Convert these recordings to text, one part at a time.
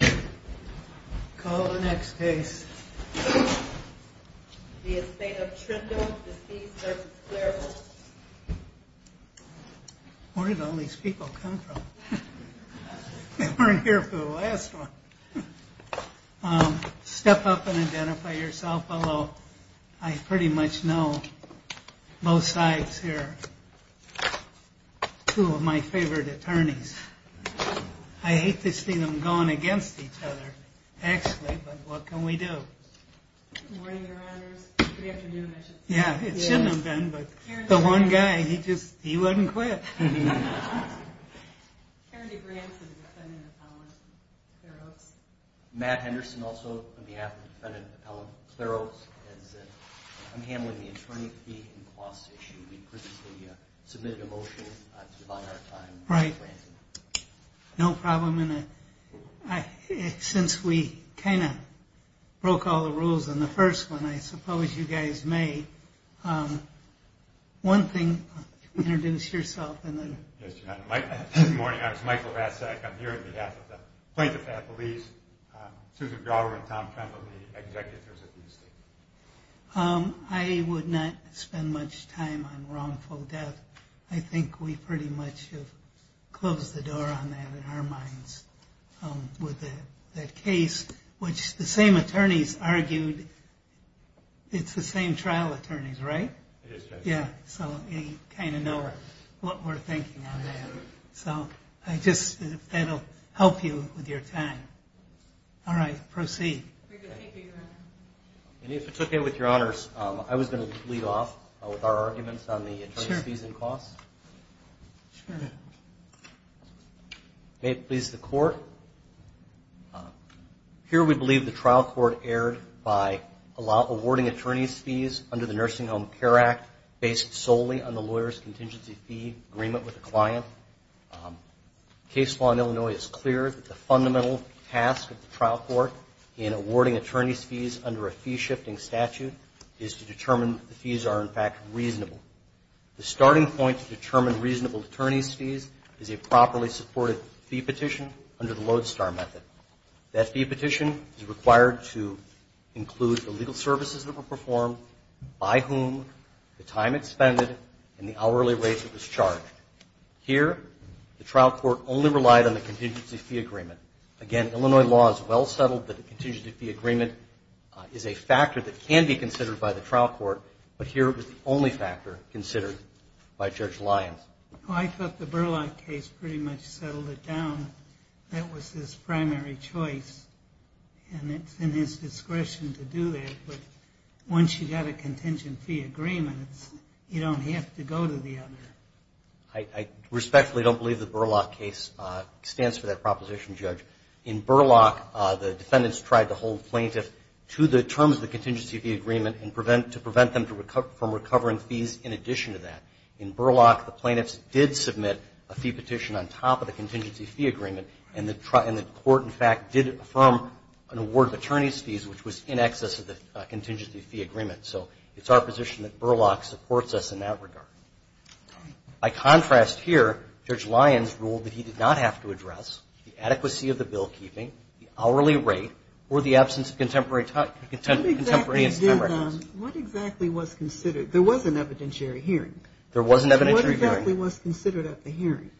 Where did all these people come from? They weren't here for the last one. Step up and identify yourself. Hello. I pretty much know both sides here. Two of my favorite attorneys. I hate to see them going against each other, actually, but what can we do? Good morning, Your Honors. Good afternoon, I should say. Yeah, it shouldn't have been, but the one guy, he just, he wouldn't quit. Karen DeGrant for the defendant, Appellant Clare Oaks. Matt Henderson, also on behalf of the defendant, Appellant Clare Oaks. I'm handling the attorney fee and cost issue. We previously submitted a motion to divide our time. Right. No problem. Since we kind of broke all the rules on the first one, I suppose you guys may. One thing, introduce yourself. Good morning, I'm Michael Vasak. I'm here on behalf of the plaintiff, Appellees, Susan Grauer and Tom Kremlin, the executives. I would not spend much time on wrongful death. I think we pretty much have closed the door on that in our minds. With that case, which the same attorneys argued, it's the same trial attorneys, right? Yeah, so you kind of know what we're thinking on that. So I just, that'll help you with your time. All right, proceed. And if it's okay with Your Honors, I was going to lead off with our arguments on the attorneys fees and costs. Sure. May it please the Court. Here we believe the trial court erred by awarding attorneys fees under the Nursing Home Care Act, based solely on the lawyer's contingency fee agreement with the client. Case law in Illinois is clear that the fundamental task of the trial court in awarding attorneys fees under a fee-shifting statute is to determine that the fees are, in fact, reasonable. The starting point to determine reasonable attorneys fees is a properly supported fee petition under the Lodestar method. That fee petition is required to include the legal services that were performed, by whom, the time expended, and the hourly rate that was charged. Here, the trial court only relied on the contingency fee agreement. Again, Illinois law is well settled that the contingency fee agreement is a factor that can be considered by the trial court, but here it was the only factor considered by Judge Lyons. I thought the Burlock case pretty much settled it down. That was his primary choice, and it's in his discretion to do that. But once you've got a contingency fee agreement, you don't have to go to the other. I respectfully don't believe the Burlock case stands for that proposition, Judge. In Burlock, the defendants tried to hold plaintiffs to the terms of the contingency fee agreement to prevent them from recovering fees in addition to that. In Burlock, the plaintiffs did submit a fee petition on top of the contingency fee agreement, and the court, in fact, did affirm an award of attorney's fees, which was in excess of the contingency fee agreement. So it's our position that Burlock supports us in that regard. By contrast here, Judge Lyons ruled that he did not have to address the adequacy of the bill keeping, the hourly rate, or the absence of contemporary time records. What exactly was considered? There was an evidentiary hearing. There was an evidentiary hearing. What exactly was considered at the hearing?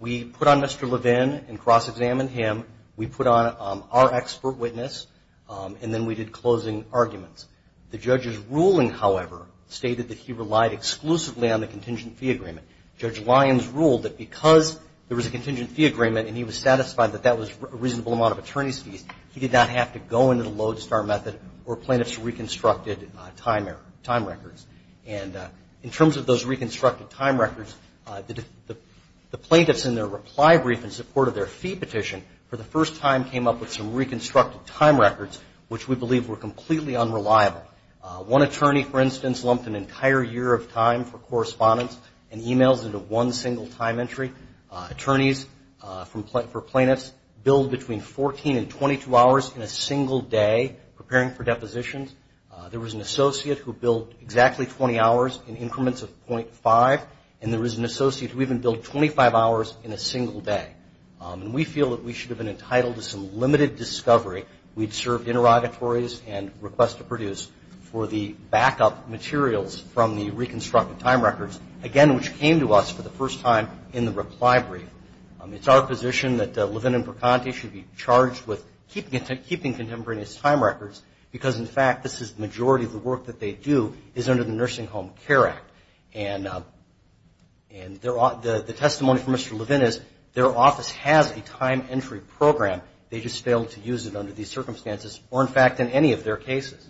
We put on Mr. Levin and cross-examined him. We put on our expert witness, and then we did closing arguments. The judge's ruling, however, stated that he relied exclusively on the contingency fee agreement. Judge Lyons ruled that because there was a contingency fee agreement and he was satisfied that that was a reasonable amount of attorney's fees, he did not have to go into the Lodestar method or plaintiffs' reconstructed time records. And in terms of those reconstructed time records, the plaintiffs in their reply brief in support of their fee petition for the first time came up with some reconstructed time records, which we believe were completely unreliable. One attorney, for instance, lumped an entire year of time for correspondence and emails into one single time entry. Attorneys for plaintiffs billed between 14 and 22 hours in a single day preparing for depositions. There was an associate who billed exactly 20 hours in increments of 0.5, and there was an associate who even billed 25 hours in a single day. And we feel that we should have been entitled to some limited discovery. We'd served interrogatories and requests to produce for the backup materials from the reconstructed time records, again, which came to us for the first time in the reply brief. It's our position that Levin and Percanti should be charged with keeping contemporary time records because, in fact, this is the majority of the work that they do is under the Nursing Home Care Act. And the testimony from Mr. Levin is their office has a time entry program. They just failed to use it under these circumstances or, in fact, in any of their cases.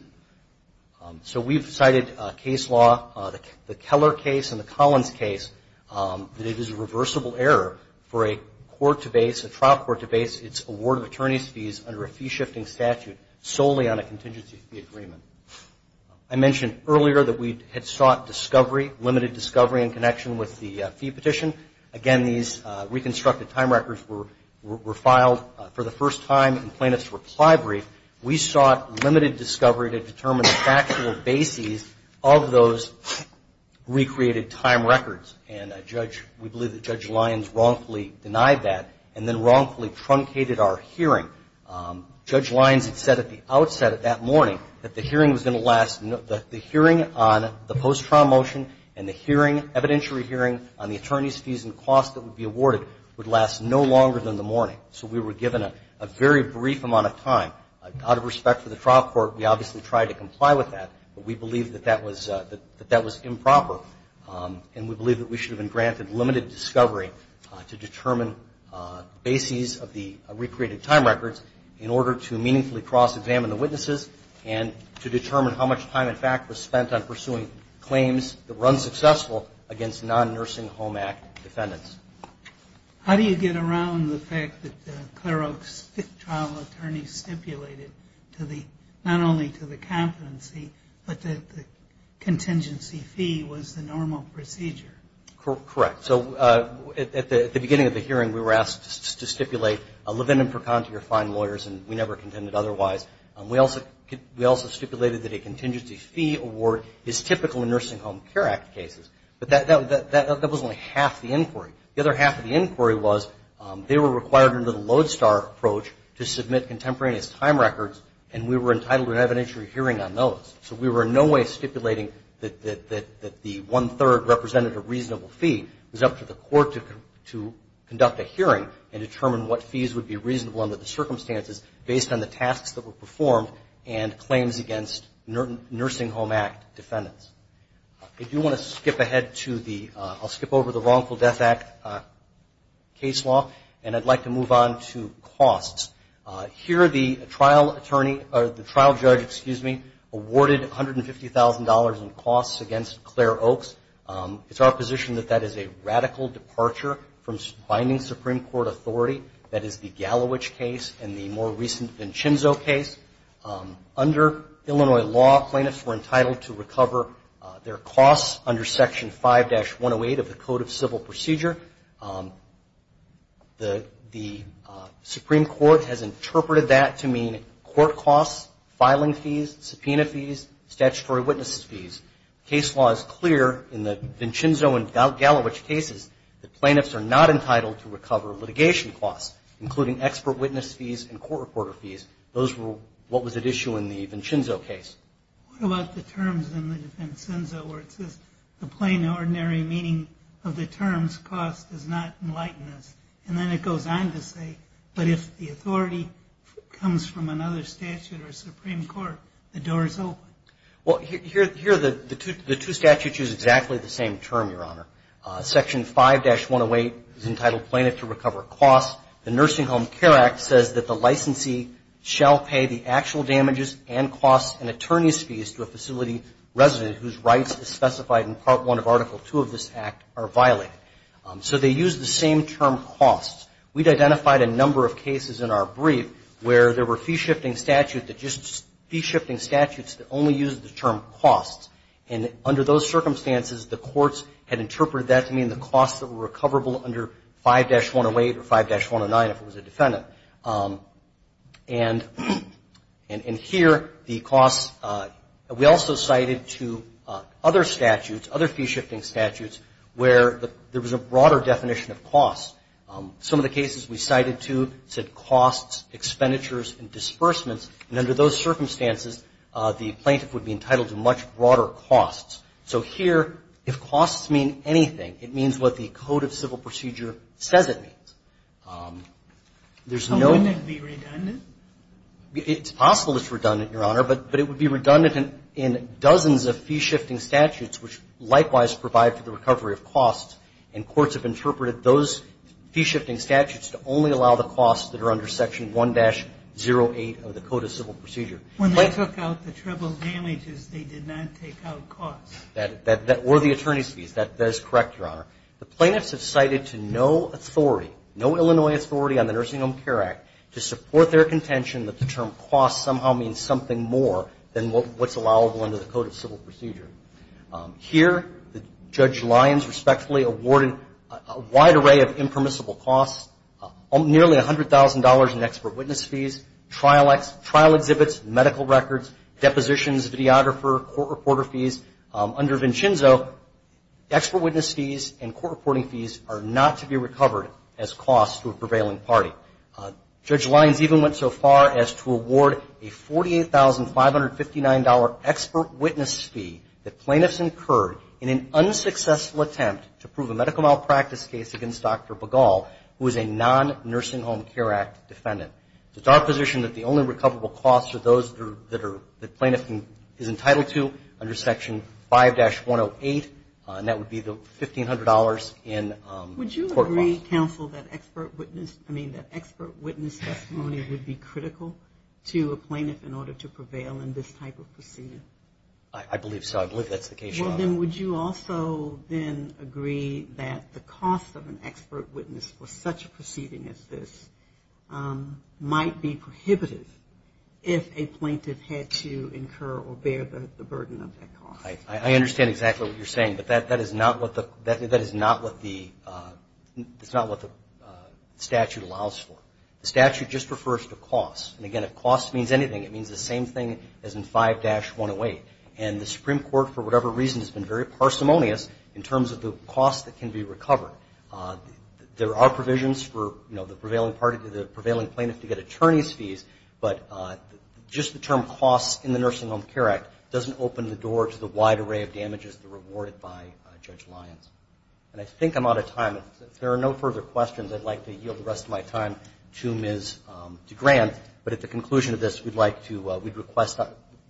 So we've cited case law, the Keller case and the Collins case, that it is a reversible error for a court to base, a trial court to base its award of attorney's fees under a fee-shifting statute solely on a contingency agreement. I mentioned earlier that we had sought discovery, limited discovery in connection with the fee petition. Again, these reconstructed time records were filed for the first time in plaintiff's reply brief. We sought limited discovery to determine the factual bases of those recreated time records. And we believe that Judge Lyons wrongfully denied that and then wrongfully truncated our hearing. Judge Lyons had said at the outset of that morning that the hearing was going to last, that the hearing on the post-trial motion and the hearing, evidentiary hearing on the attorney's fees and costs that would be awarded would last no longer than the morning. So we were given a very brief amount of time. Out of respect for the trial court, we obviously tried to comply with that, but we believe that that was improper. And we believe that we should have been granted limited discovery to determine bases of the recreated time records in order to meaningfully cross-examine the witnesses and to determine how much time, in fact, was spent on pursuing claims that were unsuccessful against non-Nursing Home Act defendants. How do you get around the fact that the Claro trial attorney stipulated not only to the competency, but that the contingency fee was the normal procedure? Correct. Correct. So at the beginning of the hearing, we were asked to stipulate Levin and Perconte are fine lawyers, and we never contended otherwise. We also stipulated that a contingency fee award is typical in Nursing Home Care Act cases. But that was only half the inquiry. The other half of the inquiry was they were required under the Lodestar approach to submit contemporaneous time records, and we were entitled to an evidentiary hearing on those. So we were in no way stipulating that the one-third representative reasonable fee was up to the court to conduct a hearing and determine what fees would be reasonable under the circumstances based on the tasks that were performed and claims against Nursing Home Act defendants. I do want to skip ahead to the – I'll skip over the Wrongful Death Act case law, and I'd like to move on to costs. Here, the trial judge awarded $150,000 in costs against Claire Oakes. It's our position that that is a radical departure from binding Supreme Court authority. That is the Gallowich case and the more recent Vincenzo case. Under Illinois law, plaintiffs were entitled to recover their costs under Section 5-108 of the Code of Civil Procedure. The Supreme Court has interpreted that to mean court costs, filing fees, subpoena fees, statutory witness fees. Case law is clear in the Vincenzo and Gallowich cases that plaintiffs are not entitled to recover litigation costs, including expert witness fees and court reporter fees. Those were what was at issue in the Vincenzo case. What about the terms in the Vincenzo where it says, the plain and ordinary meaning of the terms cost does not enlighten us? And then it goes on to say, but if the authority comes from another statute or Supreme Court, the door is open. Well, here the two statutes use exactly the same term, Your Honor. Section 5-108 is entitled plaintiff to recover costs. The Nursing Home Care Act says that the licensee shall pay the actual damages and costs and attorney's fees to a facility resident whose rights as specified in Part 1 of Article 2 of this Act are violated. So they use the same term, costs. We'd identified a number of cases in our brief where there were fee-shifting statutes that only used the term costs. And under those circumstances, the courts had interpreted that to mean the costs that were recoverable under 5-108 or 5-109 if it was a defendant. And here the costs, we also cited to other statutes, other fee-shifting statutes, where there was a broader definition of costs. Some of the cases we cited to said costs, expenditures, and disbursements. And under those circumstances, the plaintiff would be entitled to much broader costs. So here, if costs mean anything, it means what the Code of Civil Procedure says it means. There's no need to be redundant. It's possible it's redundant, Your Honor, but it would be redundant in dozens of fee-shifting statutes, which likewise provide for the recovery of costs. And courts have interpreted those fee-shifting statutes to only allow the costs that are under Section 1-08 of the Code of Civil Procedure. When they took out the treble damages, they did not take out costs. Or the attorney's fees. That is correct, Your Honor. The plaintiffs have cited to no authority, no Illinois authority on the Nursing Home Care Act, to support their contention that the term costs somehow means something more than what's allowable under the Code of Civil Procedure. Here, Judge Lyons respectfully awarded a wide array of impermissible costs, nearly $100,000 in expert witness fees, trial exhibits, medical records, depositions, videographer, court reporter fees. Under Vincenzo, expert witness fees and court reporting fees are not to be recovered as costs to a prevailing party. Judge Lyons even went so far as to award a $48,559 expert witness fee that plaintiffs incurred in an unsuccessful attempt to prove a medical malpractice case against Dr. Begal, who is a non-Nursing Home Care Act defendant. It's our position that the only recoverable costs are those that the plaintiff is entitled to under Section 5-108, and that would be the $1,500 in court costs. Would you agree, counsel, that expert witness testimony would be critical to a plaintiff in order to prevail in this type of procedure? I believe so. I believe that's the case, Your Honor. Well, then would you also then agree that the cost of an expert witness for such a proceeding as this might be prohibitive if a plaintiff had to incur or bear the burden of that cost? I understand exactly what you're saying, but that is not what the statute allows for. The statute just refers to costs. And, again, if cost means anything, it means the same thing as in 5-108. And the Supreme Court, for whatever reason, has been very parsimonious in terms of the costs that can be recovered. There are provisions for the prevailing plaintiff to get attorney's fees, but just the term costs in the Nursing Home Care Act doesn't open the door to the wide array of damages that are awarded by Judge Lyons. And I think I'm out of time. If there are no further questions, I'd like to yield the rest of my time to Ms. DeGrand. But at the conclusion of this, we'd request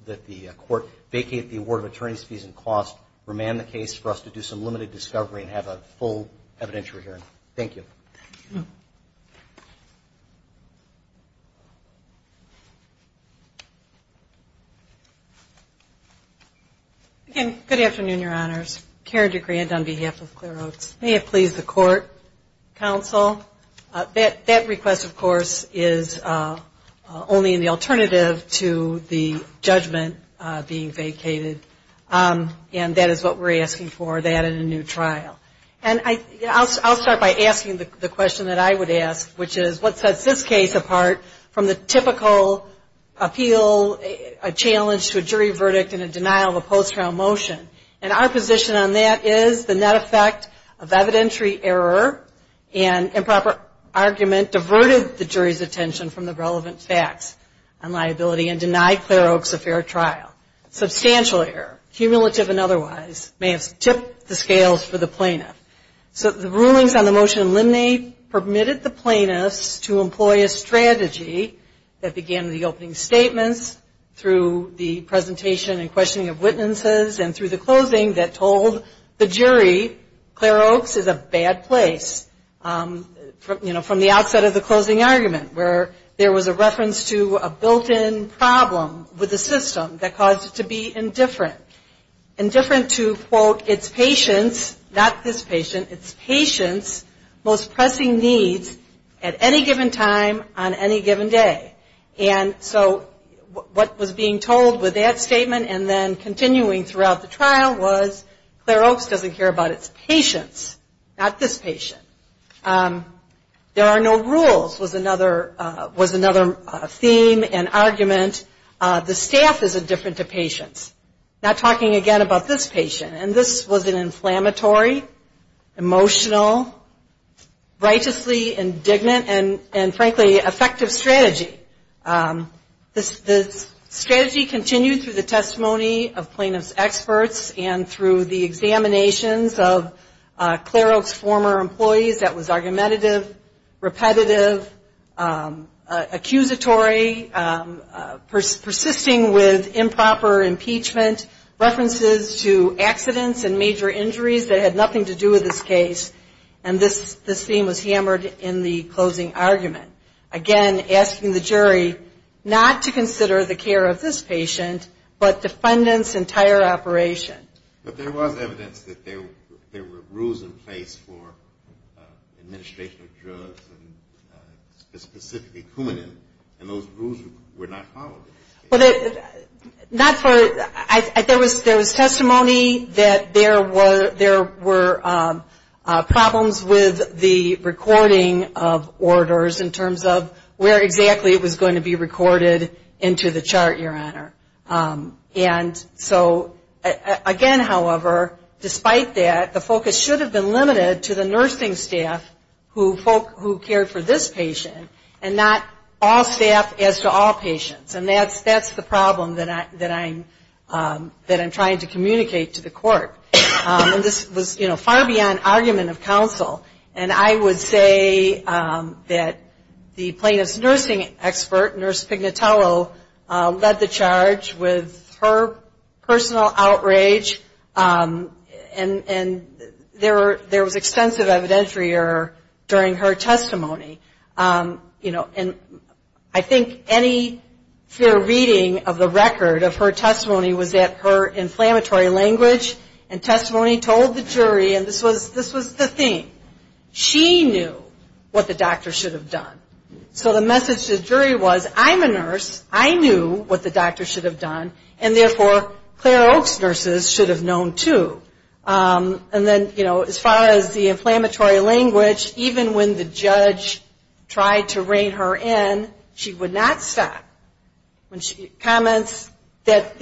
that the Court vacate the award of attorney's fees and costs, remand the case for us to do some limited discovery and have a full evidentiary hearing. Thank you. Good afternoon, Your Honors. Karen DeGrand on behalf of Claire Oates. May it please the Court, Counsel. That request, of course, is only in the alternative to the judgment being vacated. And that is what we're asking for, that and a new trial. And I'll start by asking the question that I would ask, which is what sets this case apart from the typical appeal, a challenge to a jury verdict and a denial of a post-trial motion. And our position on that is the net effect of evidentiary error and improper argument diverted the jury's attention from the relevant facts on liability and denied Claire Oates a fair trial. Substantial error, cumulative and otherwise, may have tipped the scales for the plaintiff. So the rulings on the motion eliminate permitted the plaintiffs to employ a strategy that began with the opening statements, through the presentation and questioning of witnesses, and through the closing that told the jury Claire Oates is a bad place. You know, from the outset of the closing argument, where there was a reference to a built-in problem with the system that caused it to be indifferent. Indifferent to, quote, its patients, not this patient, its patients' most pressing needs at any given time on any given day. And so what was being told with that statement and then continuing throughout the trial was Claire Oates doesn't care about its patients, not this patient. There are no rules was another theme and argument. The staff is indifferent to patients, not talking again about this patient. And this was an inflammatory, emotional, righteously indignant, and frankly, effective strategy. This strategy continued through the testimony of plaintiff's experts and through the examinations of Claire Oates' former employees. That was argumentative, repetitive, accusatory, persisting with improper impeachment, references to accidents and major injuries that had nothing to do with this case. And this theme was hammered in the closing argument. Again, asking the jury not to consider the care of this patient, but defendant's entire operation. But there was evidence that there were rules in place for administration of drugs and specifically Coumadin, and those rules were not followed in this case. There was testimony that there were problems with the recording of orders in terms of where exactly it was going to be recorded into the chart, Your Honor. And so again, however, despite that, the focus should have been limited to the nursing staff who cared for this patient and not all staff as to all patients. And that's the problem that I'm trying to communicate to the court. And this was far beyond argument of counsel. And I would say that the plaintiff's nursing expert, Nurse Pignatello, led the charge with her personal outrage, and there was extensive evidentiary during her testimony. And I think any fair reading of the record of her testimony was that her inflammatory language and testimony told the jury, and this was the theme, she knew what the doctor should have done. So the message to the jury was, I'm a nurse, I knew what the doctor should have done, and therefore Claire Oak's nurses should have known too. And then, you know, as far as the inflammatory language, even when the judge tried to rein her in, she would not stop when she comments that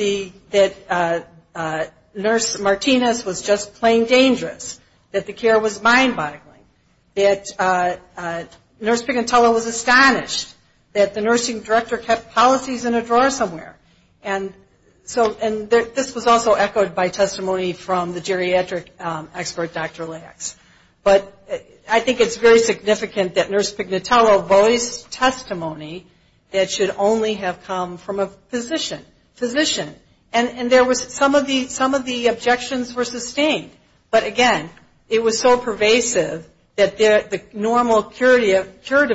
Nurse Martinez was just plain dangerous, that the care was mind-boggling, that Nurse Pignatello was astonished, that the nursing director kept policies in a drawer somewhere. And this was also echoed by testimony from the geriatric expert, Dr. Lacks. But I think it's very significant that Nurse Pignatello voiced testimony that should only have come from a physician. And some of the objections were sustained. But again, it was so pervasive that the normal curative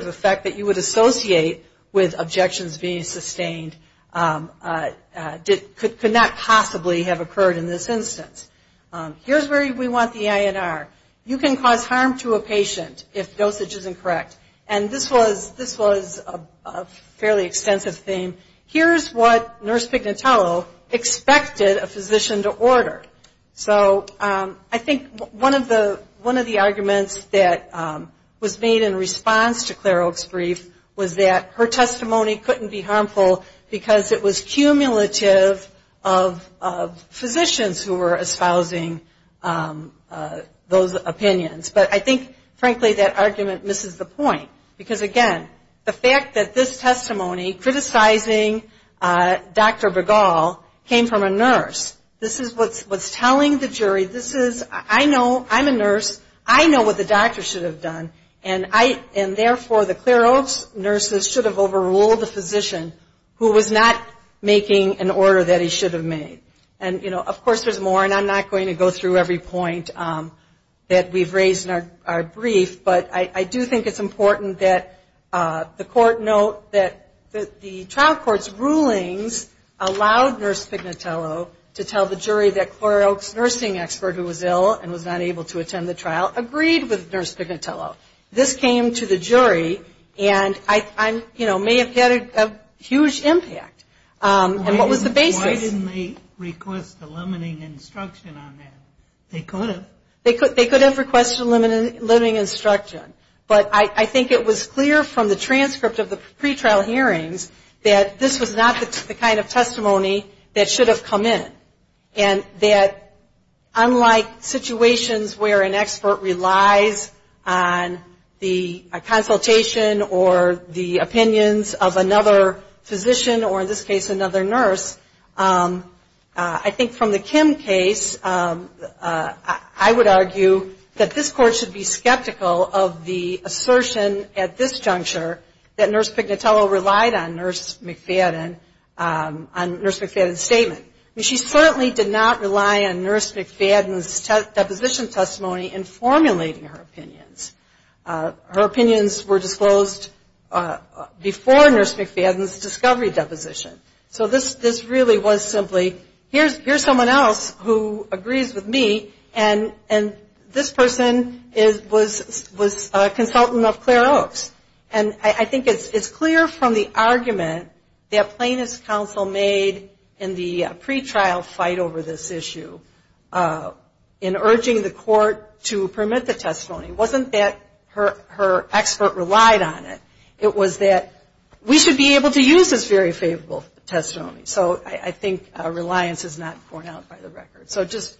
effect that you would associate with objections being sustained could not possibly have occurred in this instance. Here's where we want the INR. You can cause harm to a patient if dosage is incorrect. And this was a fairly extensive theme. Here's what Nurse Pignatello expected a physician to order. So I think one of the arguments that was made in response to Clare Oak's brief was that her testimony couldn't be harmful because it was cumulative of physicians who were espousing those opinions. But I think, frankly, that argument misses the point. Because again, the fact that this testimony criticizing Dr. Begal came from a nurse, this is what's telling the jury, this is, I know, I'm a nurse, I know what the doctor should have done, and therefore the Clare Oak's nurses should have overruled the physician who was not making an order that he should have made. And of course there's more, and I'm not going to go through every point that we've raised in our brief, but I do think it's important that the court note that the trial court's rulings allowed Nurse Pignatello to tell the jury that Clare Oak's nursing expert who was ill and was not able to attend the trial agreed with Nurse Pignatello. This came to the jury and, you know, may have had a huge impact. And what was the basis? Why didn't they request a limiting instruction on that? They could have. They could have requested a limiting instruction, but I think it was clear from the transcript of the pretrial hearings that this was not the kind of testimony that should have come in. And that unlike situations where an expert relies on the consultation or the opinions of another physician, or in this case another nurse, I think from the Kim case, I would argue that this court should be skeptical of the assertion at this juncture that Nurse Pignatello relied on Nurse McFadden's statement. She certainly did not rely on Nurse McFadden's deposition testimony in formulating her opinions. Her opinions were disclosed before Nurse McFadden's discovery deposition. So this really was simply here's someone else who agrees with me and this person was a consultant of Clare Oak's. And I think it's clear from the argument that plaintiff's counsel made in the pretrial fight over this issue in urging the court to permit the testimony wasn't that her expert relied on it. It was that we should be able to use this very favorable testimony. So I think reliance is not borne out by the record. So just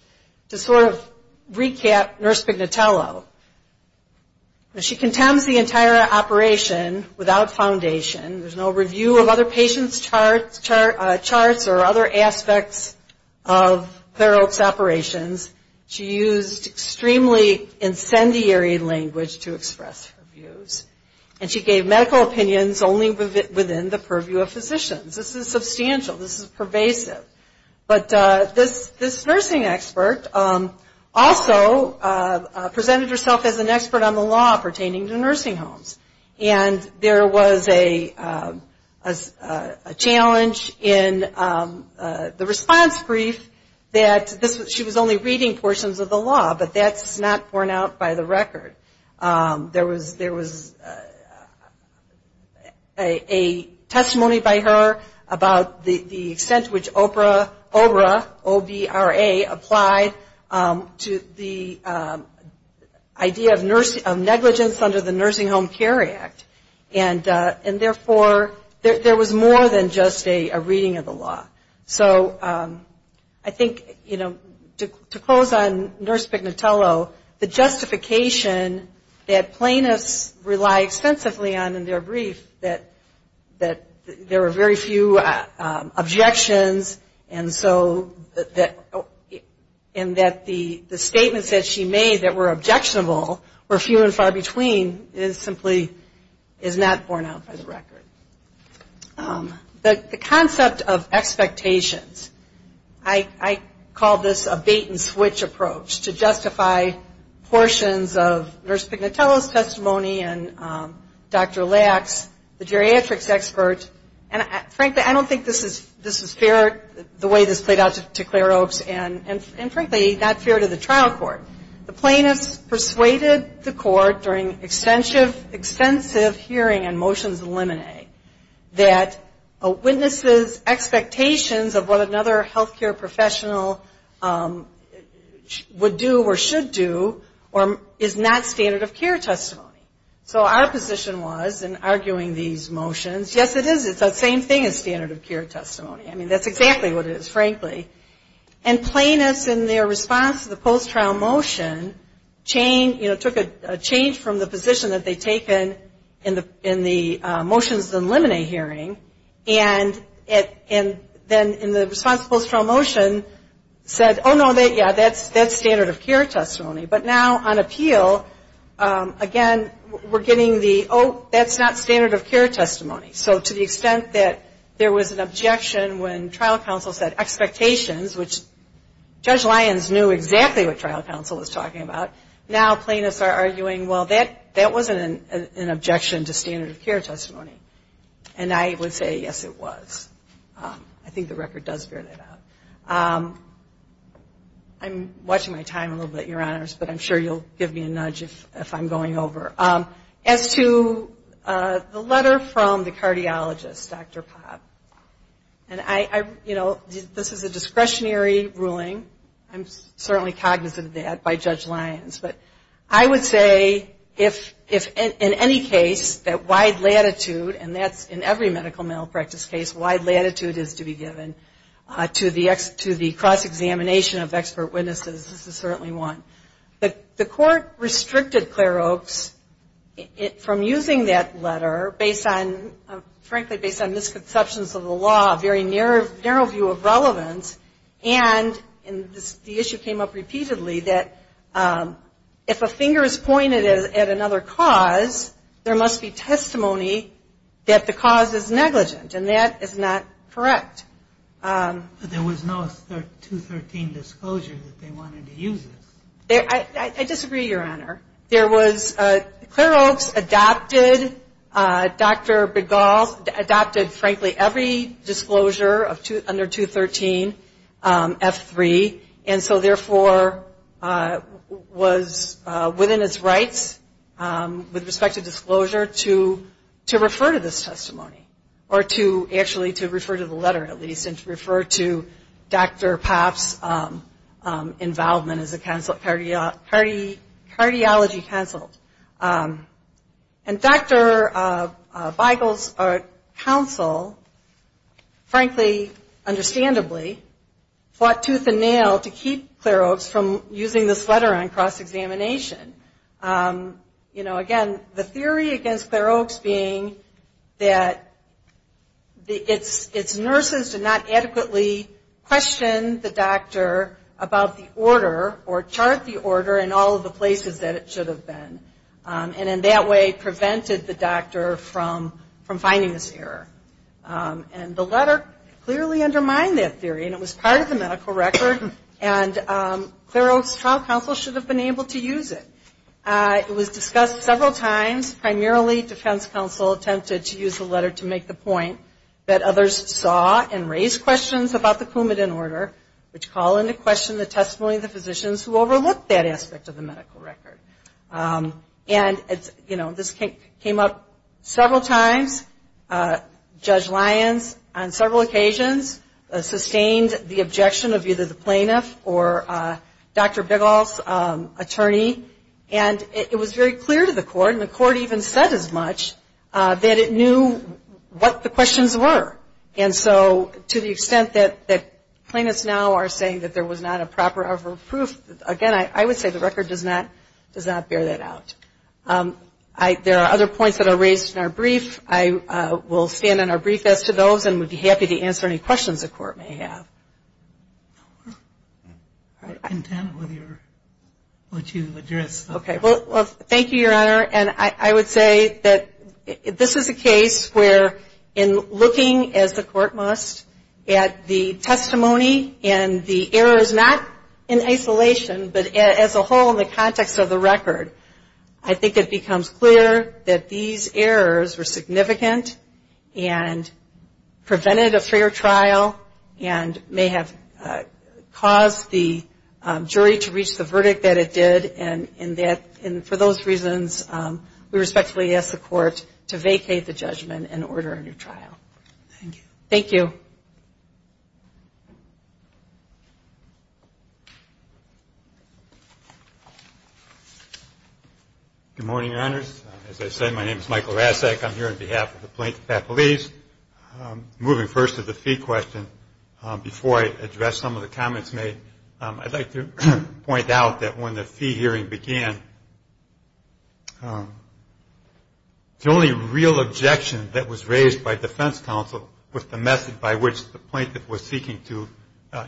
to sort of recap Nurse Pignatello, she condemns the entire operation without foundation. There's no review of other patients' charts or other aspects of Clare Oak's operation. She used extremely incendiary language to express her views. And she gave medical opinions only within the purview of physicians. This is substantial. This is pervasive. But this nursing expert also presented herself as an expert on the law pertaining to nursing homes. And there was a challenge in the response brief that this was not the case. She was only reading portions of the law, but that's not borne out by the record. There was a testimony by her about the extent to which OBRA applied to the idea of negligence under the Nursing Home Care Act. And therefore there was more than just a reading of the law. So I think, you know, to close on Nurse Pignatello, the justification that plaintiffs rely extensively on in their brief that there were very few objections and so that the statements that she made that were objectionable were few and far between is simply is not borne out by the record. The concept of expectations. I call this a bait and switch approach to justify portions of Nurse Pignatello's testimony and Dr. Lacks, the geriatrics expert. And frankly, I don't think this is fair the way this played out to Clare Oaks. And frankly, not fair to the trial court. The plaintiffs persuaded the court during extensive hearing and motions of limine that a witness's expectations of what another healthcare professional would do or should do is not standard of care testimony. So our position was in arguing these motions, yes, it is, it's the same thing as standard of care testimony. I mean, that's exactly what it is, frankly. And then in the motion, took a change from the position that they'd taken in the motions and limine hearing, and then in the responsible trial motion said, oh, no, yeah, that's standard of care testimony. But now on appeal, again, we're getting the, oh, that's not standard of care testimony. So to the extent that there was an objection when trial counsel said expectations, which Judge Lyons knew exactly what trial counsel was talking about, now plaintiffs are arguing, well, that wasn't an objection to standard of care testimony. And I would say, yes, it was. I'm watching my time a little bit, Your Honors, but I'm sure you'll give me a nudge if I'm going over. As to the letter from the cardiologist, Dr. Popp, and I, you know, this is a discretionary ruling. I'm certainly cognizant of that by Judge Lyons, but I would say if in any case that wide latitude, and that's in every medical mental practice case, wide latitude is to be given to the cross-examination of expert witnesses, this is certainly one. The court restricted Clare Oaks from using that letter based on, frankly, based on misconceptions of the law, a very narrow view of the law, and the issue came up repeatedly, that if a finger is pointed at another cause, there must be testimony that the cause is negligent, and that is not correct. There was no 213 disclosure that they wanted to use this. I disagree, Your Honor. There was, Clare Oaks adopted, Dr. Begall adopted, frankly, every disclosure under 213, F3. And so, therefore, was within its rights, with respect to disclosure, to refer to this testimony, or to actually to refer to the letter, at least, and to refer to Dr. Popp's involvement as a cardiology counsel. And Dr. Begall's counsel, frankly, understandably, fought tooth and nail to get the testimony to the court. And he fought tooth and nail to keep Clare Oaks from using this letter on cross-examination. You know, again, the theory against Clare Oaks being that its nurses did not adequately question the doctor about the order, or chart the order in all of the places that it should have been, and in that way, prevented the doctor from finding this error. And the letter clearly undermined that theory, and it was part of the medical record, and Clare Oaks' trial counsel should have been able to use it. It was discussed several times. Primarily, defense counsel attempted to use the letter to make the point that others saw and raised questions about the Coumadin order, which call into question the testimony of the physicians who overlooked that aspect of the medical record. And, you know, this came up several times. Judge Lyons, on several occasions, sustained the objection of either the plaintiff or Dr. Begall's attorney, and it was very clear to the court, and the court even said as much, that it knew what the questions were. And so, to the extent that plaintiffs now are saying that there was not a proper proof, again, I would say the record does not bear that out. And I'll be brief as to those, and would be happy to answer any questions the court may have. I'm content with what you've addressed. Okay. Well, thank you, Your Honor. And I would say that this is a case where, in looking, as the court must, at the testimony and the errors, not in isolation, but as a whole in the context of the record, I think it becomes clear that these errors were not intentional, and prevented a fair trial, and may have caused the jury to reach the verdict that it did, and for those reasons, we respectfully ask the court to vacate the judgment and order a new trial. Thank you. Good morning, Your Honors. As I said, my name is Michael Rasek. I'm here on behalf of the plaintiff's faculty. Moving first to the fee question, before I address some of the comments made, I'd like to point out that when the fee hearing began, the only real objection that was raised by defense counsel with the method by which the defense counsel was seeking to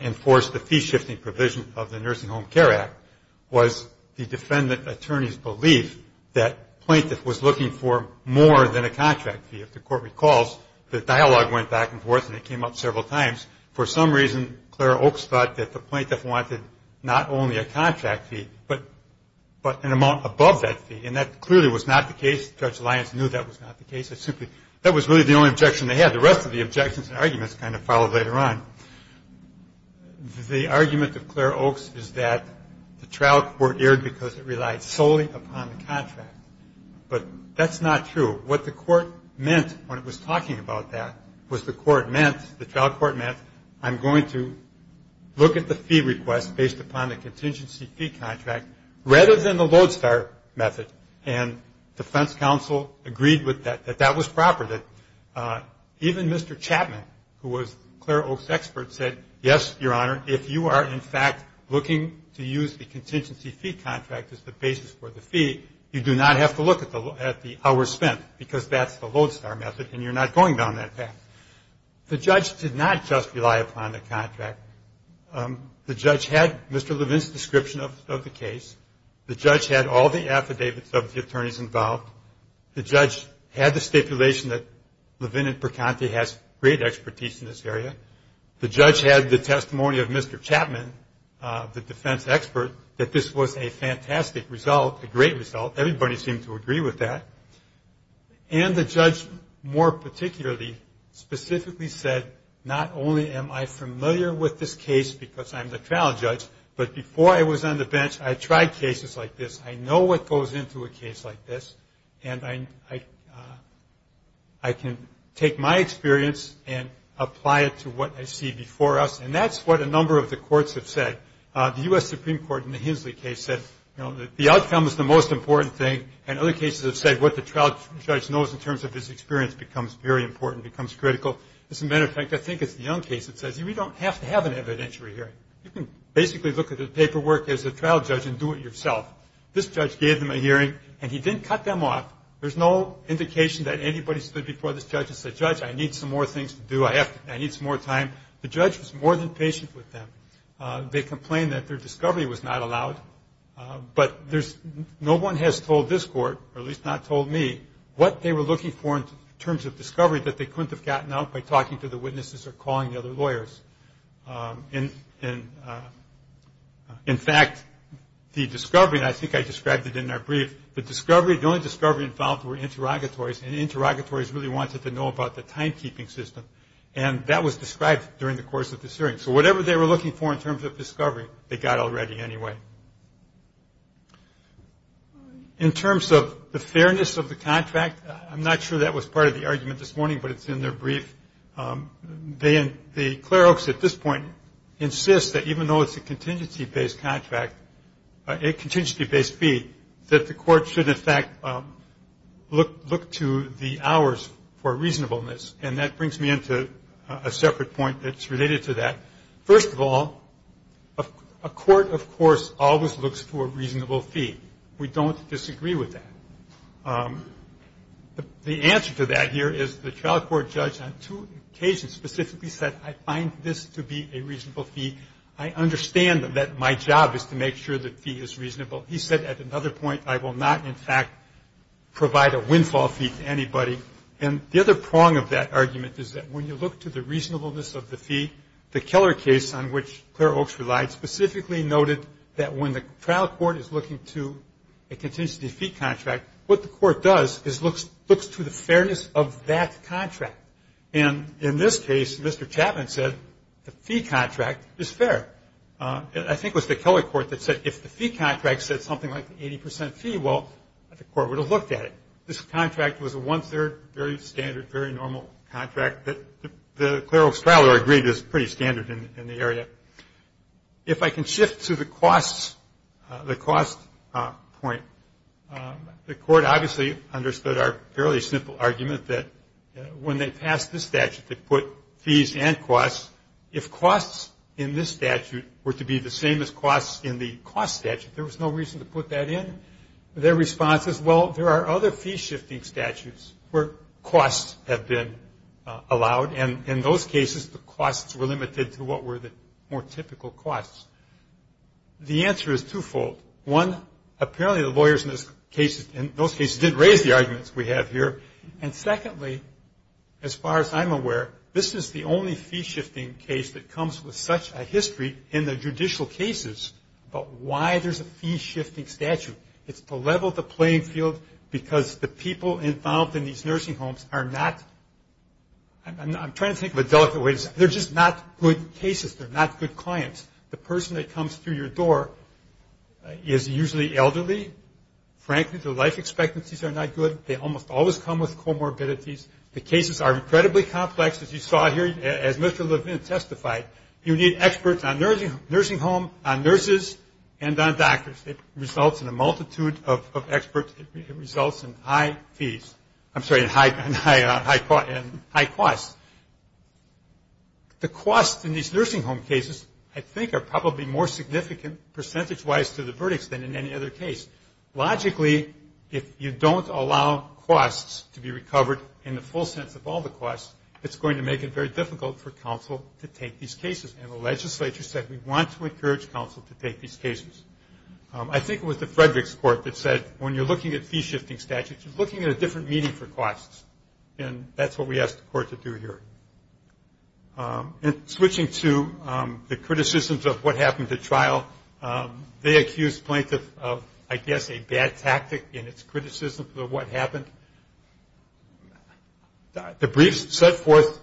enforce the fee-shifting provision of the Nursing Home Care Act was the defendant attorney's belief that plaintiff was looking for more than a contract fee. If the court recalls, the dialogue went back and forth, and it came up several times. For some reason, Clara Oaks thought that the plaintiff wanted not only a contract fee, but an amount above that fee, and that clearly was not the case. Judge Lyons knew that was not the case. That was really the only objection they had. The rest of the objections and arguments kind of followed later on. The argument of Clara Oaks is that the trial court erred because it relied solely upon the contract, but that's not true. What the court meant when it was talking about that was the court meant, the trial court meant, I'm going to look at the fee request based upon the contingency fee contract rather than the Lodestar method, and defense counsel agreed that that was proper, that even if the fee request was based upon the contingency fee contract, even Mr. Chapman, who was Clara Oaks' expert, said, yes, Your Honor, if you are, in fact, looking to use the contingency fee contract as the basis for the fee, you do not have to look at the hours spent, because that's the Lodestar method, and you're not going down that path. The judge did not just rely upon the contract. The judge had Mr. Levin's description of the case. The judge had all the affidavits of the attorneys involved. The judge had the stipulation that Levin and Percanti has great expertise in this area. The judge had the testimony of Mr. Chapman, the defense expert, that this was a fantastic result, a great result. Everybody seemed to agree with that, and the judge more particularly, specifically said, not only am I familiar with this case because I'm the trial judge, but before I was on the bench, I tried cases like this. I know what goes into a case like this, and I can take my experience and apply it to what I see before us, and that's what a number of the courts have said. The U.S. Supreme Court in the Hinsley case said, the outcome is the most important thing, and other cases have said what the trial judge knows in terms of his experience becomes very important, becomes critical. As a matter of fact, I think it's the Young case that says, we don't have to have a trial judge and do it yourself. This judge gave them a hearing, and he didn't cut them off. There's no indication that anybody stood before this judge and said, judge, I need some more things to do. I need some more time. The judge was more than patient with them. They complained that their discovery was not allowed, but no one has told this court, or at least not told me, what they were looking for in terms of discovery that they couldn't have gotten out by talking to the witnesses or calling the other lawyers. In fact, the discovery, and I think I described it in our brief, the only discovery involved were interrogatories, and the interrogatories really wanted to know about the timekeeping system, and that was described during the course of this hearing. So whatever they were looking for in terms of discovery, they got already anyway. In terms of the fairness of the contract, I'm not sure that was part of the argument this morning, but it's in their brief. The clerks at this point insist that even though it's a contingency-based contract, a contingency-based fee, that the court should, in fact, look to the hours for reasonableness, and that brings me into a separate point that's related to that. First of all, a court, of course, always looks for a reasonable fee. We don't disagree with that. The answer to that here is the trial court judge on two occasions specifically said, I find this to be a reasonable fee. I understand that my job is to make sure the fee is reasonable. He said at another point, I will not, in fact, provide a windfall fee to anybody. And the other prong of that argument is that when you look to the reasonableness of the fee, the Keller case on which Claire Oakes relied specifically noted that when the trial court is looking to a contingency fee contract, what the court does is looks to the fairness of that contract. And in this case, Mr. Chapman said the fee contract is fair. I think it was the Keller court that said if the fee contract said something like the 80% fee, well, the court would have looked at it. This contract was a one-third, very standard, very normal contract that the Claire Oakes trial court agreed is pretty standard in the area. If I can shift to the cost point, the court, obviously, has a fairly simple argument that when they passed this statute, they put fees and costs. If costs in this statute were to be the same as costs in the cost statute, there was no reason to put that in. Their response is, well, there are other fee-shifting statutes where costs have been allowed. And in those cases, the costs were limited to what were the more typical costs. The answer is twofold. One, apparently the lawyers in those cases didn't know what the costs were. They didn't raise the arguments we have here. And secondly, as far as I'm aware, this is the only fee-shifting case that comes with such a history in the judicial cases about why there's a fee-shifting statute. It's to level the playing field because the people involved in these nursing homes are not, I'm trying to think of a delicate way to say, they're just not good cases. They're not good clients. The person that comes through your door is usually elderly. Frankly, their life expectancies are not good. They almost always come with comorbidities. The cases are incredibly complex, as you saw here, as Mr. Levin testified. You need experts on nursing home, on nurses, and on doctors. It results in a multitude of experts. It results in high fees. I'm sorry, in high costs. The costs in these nursing home cases, I think, are probably more significant percentage-wise to the verdicts than in any other case. Logically, if you don't allow costs to be recovered in the full sense of all the costs, it's going to make it very difficult for counsel to take these cases. And the legislature said, we want to encourage counsel to take these cases. I think it was the Frederick's court that said, when you're looking at fee-shifting statutes, you're looking at a different meaning for costs. And that's what we asked the court to do here. And switching to the criticisms of what happened at trial, they accused plaintiff of not being able to pay the plaintiff. I guess a bad tactic in its criticism of what happened. The briefs set forth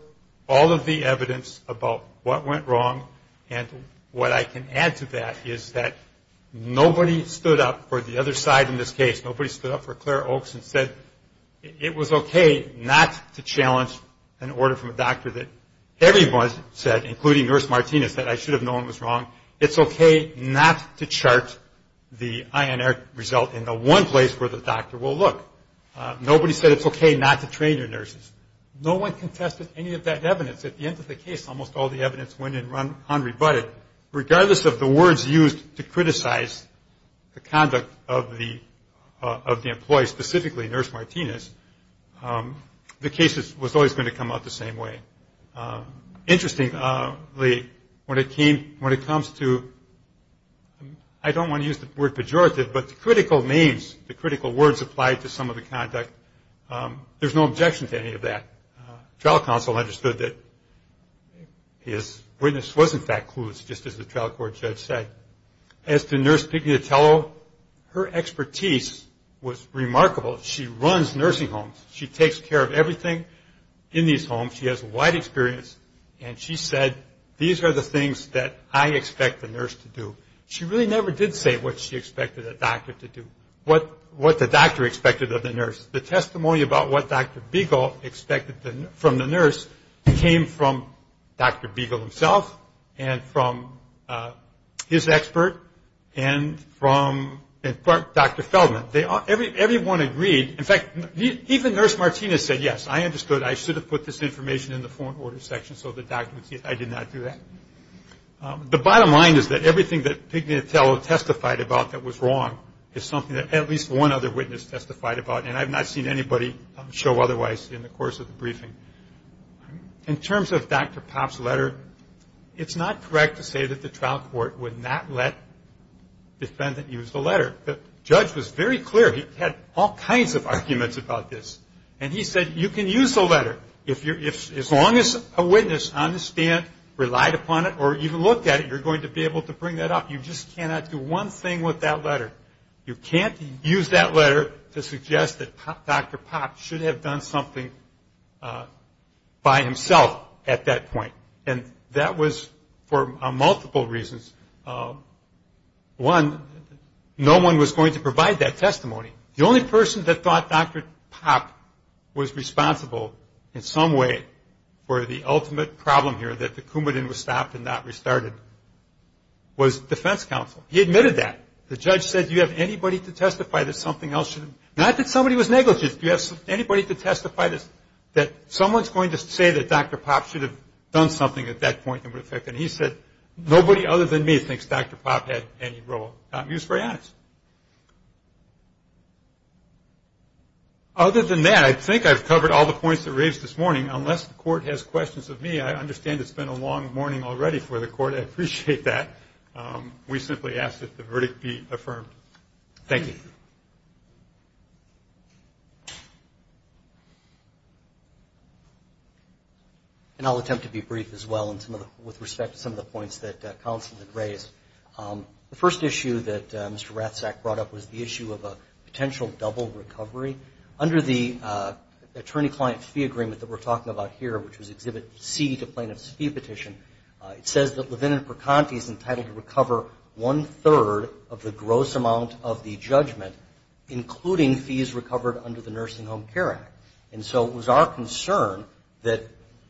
all of the evidence about what went wrong. And what I can add to that is that nobody stood up for the other side in this case. Nobody stood up for Claire Oakes and said, it was okay not to challenge an order from a doctor that everyone said, including Nurse Martinez, and that result in the one place where the doctor will look. Nobody said, it's okay not to train your nurses. No one contested any of that evidence. At the end of the case, almost all the evidence went unrebutted. Regardless of the words used to criticize the conduct of the employee, specifically Nurse Martinez, the case was always going to come out the same way. Interestingly, when it came, when it comes to, I don't want to use the word pejorative, but the critical names, the critical words applied to some of the conduct, there's no objection to any of that. Trial counsel understood that his witness was in fact clueless, just as the trial court judge said. As to Nurse Pignatello, her expertise was remarkable. She runs nursing homes. She takes care of everything in these homes. She has wide experience, and she said, these are the things that I expect the nurse to do. She really never did say what she expected a doctor to do, what the doctor expected of the nurse. The testimony about what Dr. Beagle expected from the nurse came from Dr. Beagle himself and from his testimony. In fact, even Nurse Martinez said, yes, I understood. I should have put this information in the foreign order section so the doctor would see I did not do that. The bottom line is that everything that Pignatello testified about that was wrong is something that at least one other witness testified about, and I have not seen anybody show otherwise in the course of the briefing. In terms of Dr. Papp's letter, it's not correct to say that the trial court would not let defendant use the letter. There were all kinds of arguments about this, and he said, you can use the letter. As long as a witness on the stand relied upon it or even looked at it, you're going to be able to bring that up. You just cannot do one thing with that letter. You can't use that letter to suggest that Dr. Papp should have done something by himself at that point, and that was for multiple reasons. One, no one was going to provide that testimony. The only person that the witness was going to provide was the defense counsel. He admitted that. The judge said, do you have anybody to testify that something else should have been done? Not that somebody was negligent. Do you have anybody to testify that someone is going to say that Dr. Papp should have done something at that point that would affect him? He said, nobody other than me thinks Dr. Papp had any role. He was very honest. Other than that, I think I've covered all the points that were raised this morning. Unless the court has questions of me, I understand it's been a long morning already for the court. I appreciate that. We simply ask that the verdict be affirmed. Thank you. And I'll attempt to be brief as well with respect to some of the points that counsel had raised. The first issue of the hearing that Mr. Ratzak brought up was the issue of a potential double recovery. Under the attorney-client fee agreement that we're talking about here, which was Exhibit C to plaintiff's fee petition, it says that Levin and Percanti is entitled to recover one-third of the gross amount of the judgment, including fees recovered under the Nursing Home Care Act. And so it was our concern that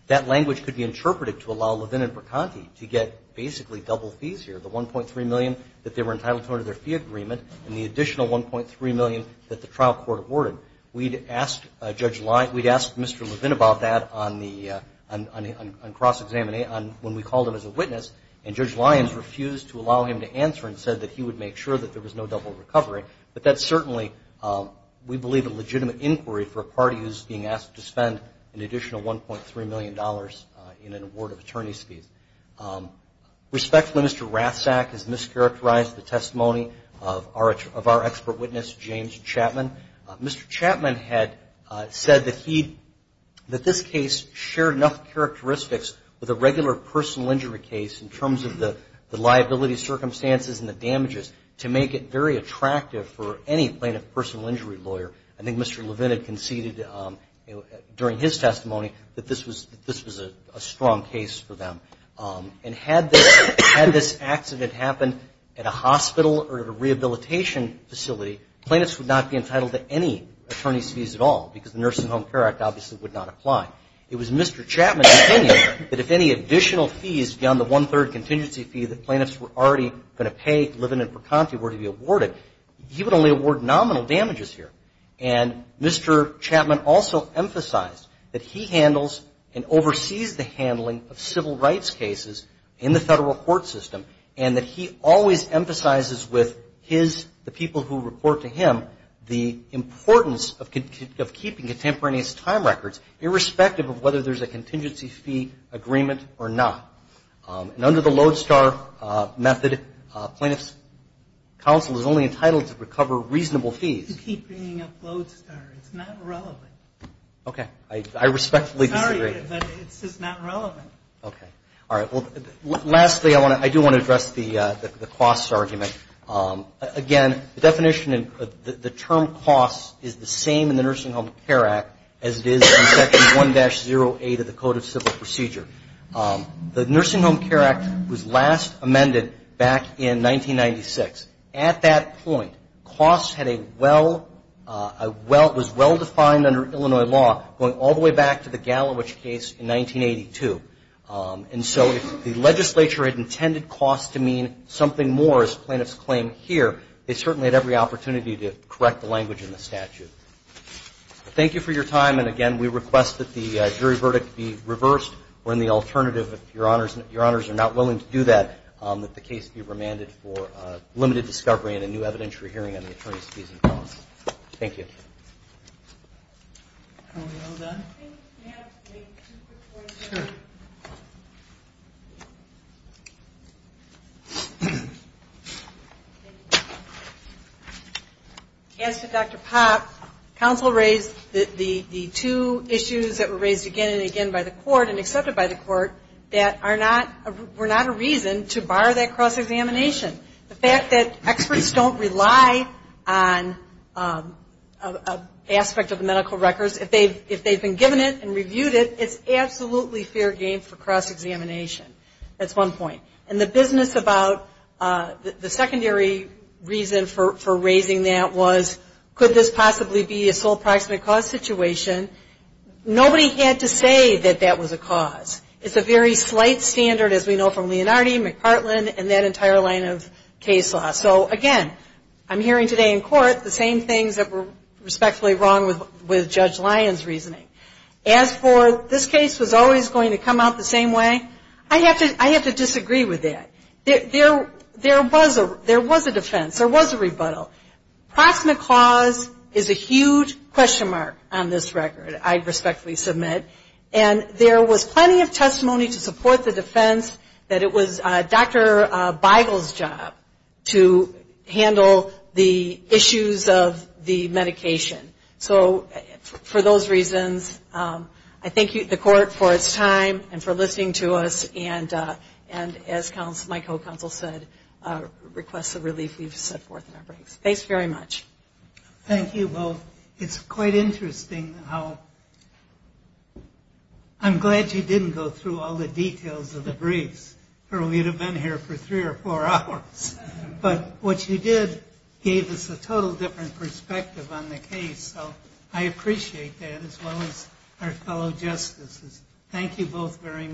that language could be interpreted to allow Levin and Percanti to get basically double fees here, the $1.3 million that they were entitled to under their fee agreement and the additional $1.3 million that the trial court awarded. We'd asked Judge Lyons, we'd asked Mr. Levin about that on the, on cross-examination, when we called him as a witness, and Judge Lyons refused to allow him to answer and said that he would make sure that there was no double recovery. But that's certainly, we believe, a legitimate inquiry for a party who's being asked to spend an award of attorney's fees. Respectfully, Mr. Rathsack has mischaracterized the testimony of our expert witness, James Chapman. Mr. Chapman had said that he, that this case shared enough characteristics with a regular personal injury case in terms of the liability circumstances and the damages to make it very attractive for any plaintiff personal injury lawyer. I think Mr. Levin had conceded during his testimony that this was, that this was a strong case, and that this was a strong case for them. And had this, had this accident happened at a hospital or at a rehabilitation facility, plaintiffs would not be entitled to any attorney's fees at all, because the Nursing Home Care Act obviously would not apply. It was Mr. Chapman's opinion that if any additional fees beyond the 1-3rd contingency fee that plaintiffs were already going to pay Levin and Percanti were to be awarded, he would only award nominal damages here. And Mr. Chapman also emphasized that he handles and handles a number of civil rights cases in the federal court system, and that he always emphasizes with his, the people who report to him, the importance of keeping contemporaneous time records, irrespective of whether there's a contingency fee agreement or not. And under the Lodestar method, plaintiffs' counsel is only entitled to recover reasonable fees. Keep bringing up Lodestar. It's not relevant. Okay. I respectfully disagree. Sorry, but it's just not relevant. Okay. All right. Well, lastly, I do want to address the costs argument. Again, the definition, the term costs is the same in the Nursing Home Care Act as it is in Section 1-08 of the Code of Civil Procedure. The Nursing Home Care Act was last amended back in 1996. At that point, costs had a well, was well defined under Illinois law going all the way back to the mid-1990s. And so if the legislature had intended costs to mean something more, as plaintiffs claim here, they certainly had every opportunity to correct the language in the statute. Thank you for your time. And again, we request that the jury verdict be reversed, or in the alternative, if your honors are not willing to do that, that the case be remanded for limited discovery and a new evidentiary hearing on the attorney's fees and costs. Thank you. As to Dr. Popp, counsel raised the two issues that were raised again and again by the court and accepted by the court that were not a reason to bar that cross-examination. The fact that experts don't rely on an aspect of the medical records, if they've been given it and reviewed it, it's absolutely fair game for cross-examination. That's one point. And the business about the secondary reason for raising that was, could this possibly be a sole proximate cause situation? Nobody had to say that that was a cause. It's a very slight standard, as we know from Leonardi, McPartland, and that entire line of case law. So again, I'm hearing today in court the same things that were respectfully wrong with Judge Lyon's reasoning. As for this case was always going to come out the same way, I have to disagree with that. There was a defense. There was a rebuttal. Proximate cause is a huge question mark on this record, I respectfully submit. And there was plenty of testimony to support the defense that it was Dr. Beigel's job to handle the issues of the medication. So for those reasons, I thank the court for its time and for listening to us. And as my co-counsel said, request the relief we've set forth in our briefs. Thanks very much. Thank you both. It's quite interesting how I'm glad you didn't go through all the details of the briefs, or we would have been here for three or four hours. But what you did gave us a total different perspective on the case. So I appreciate that, as well as our fellow justices. Thank you both very much.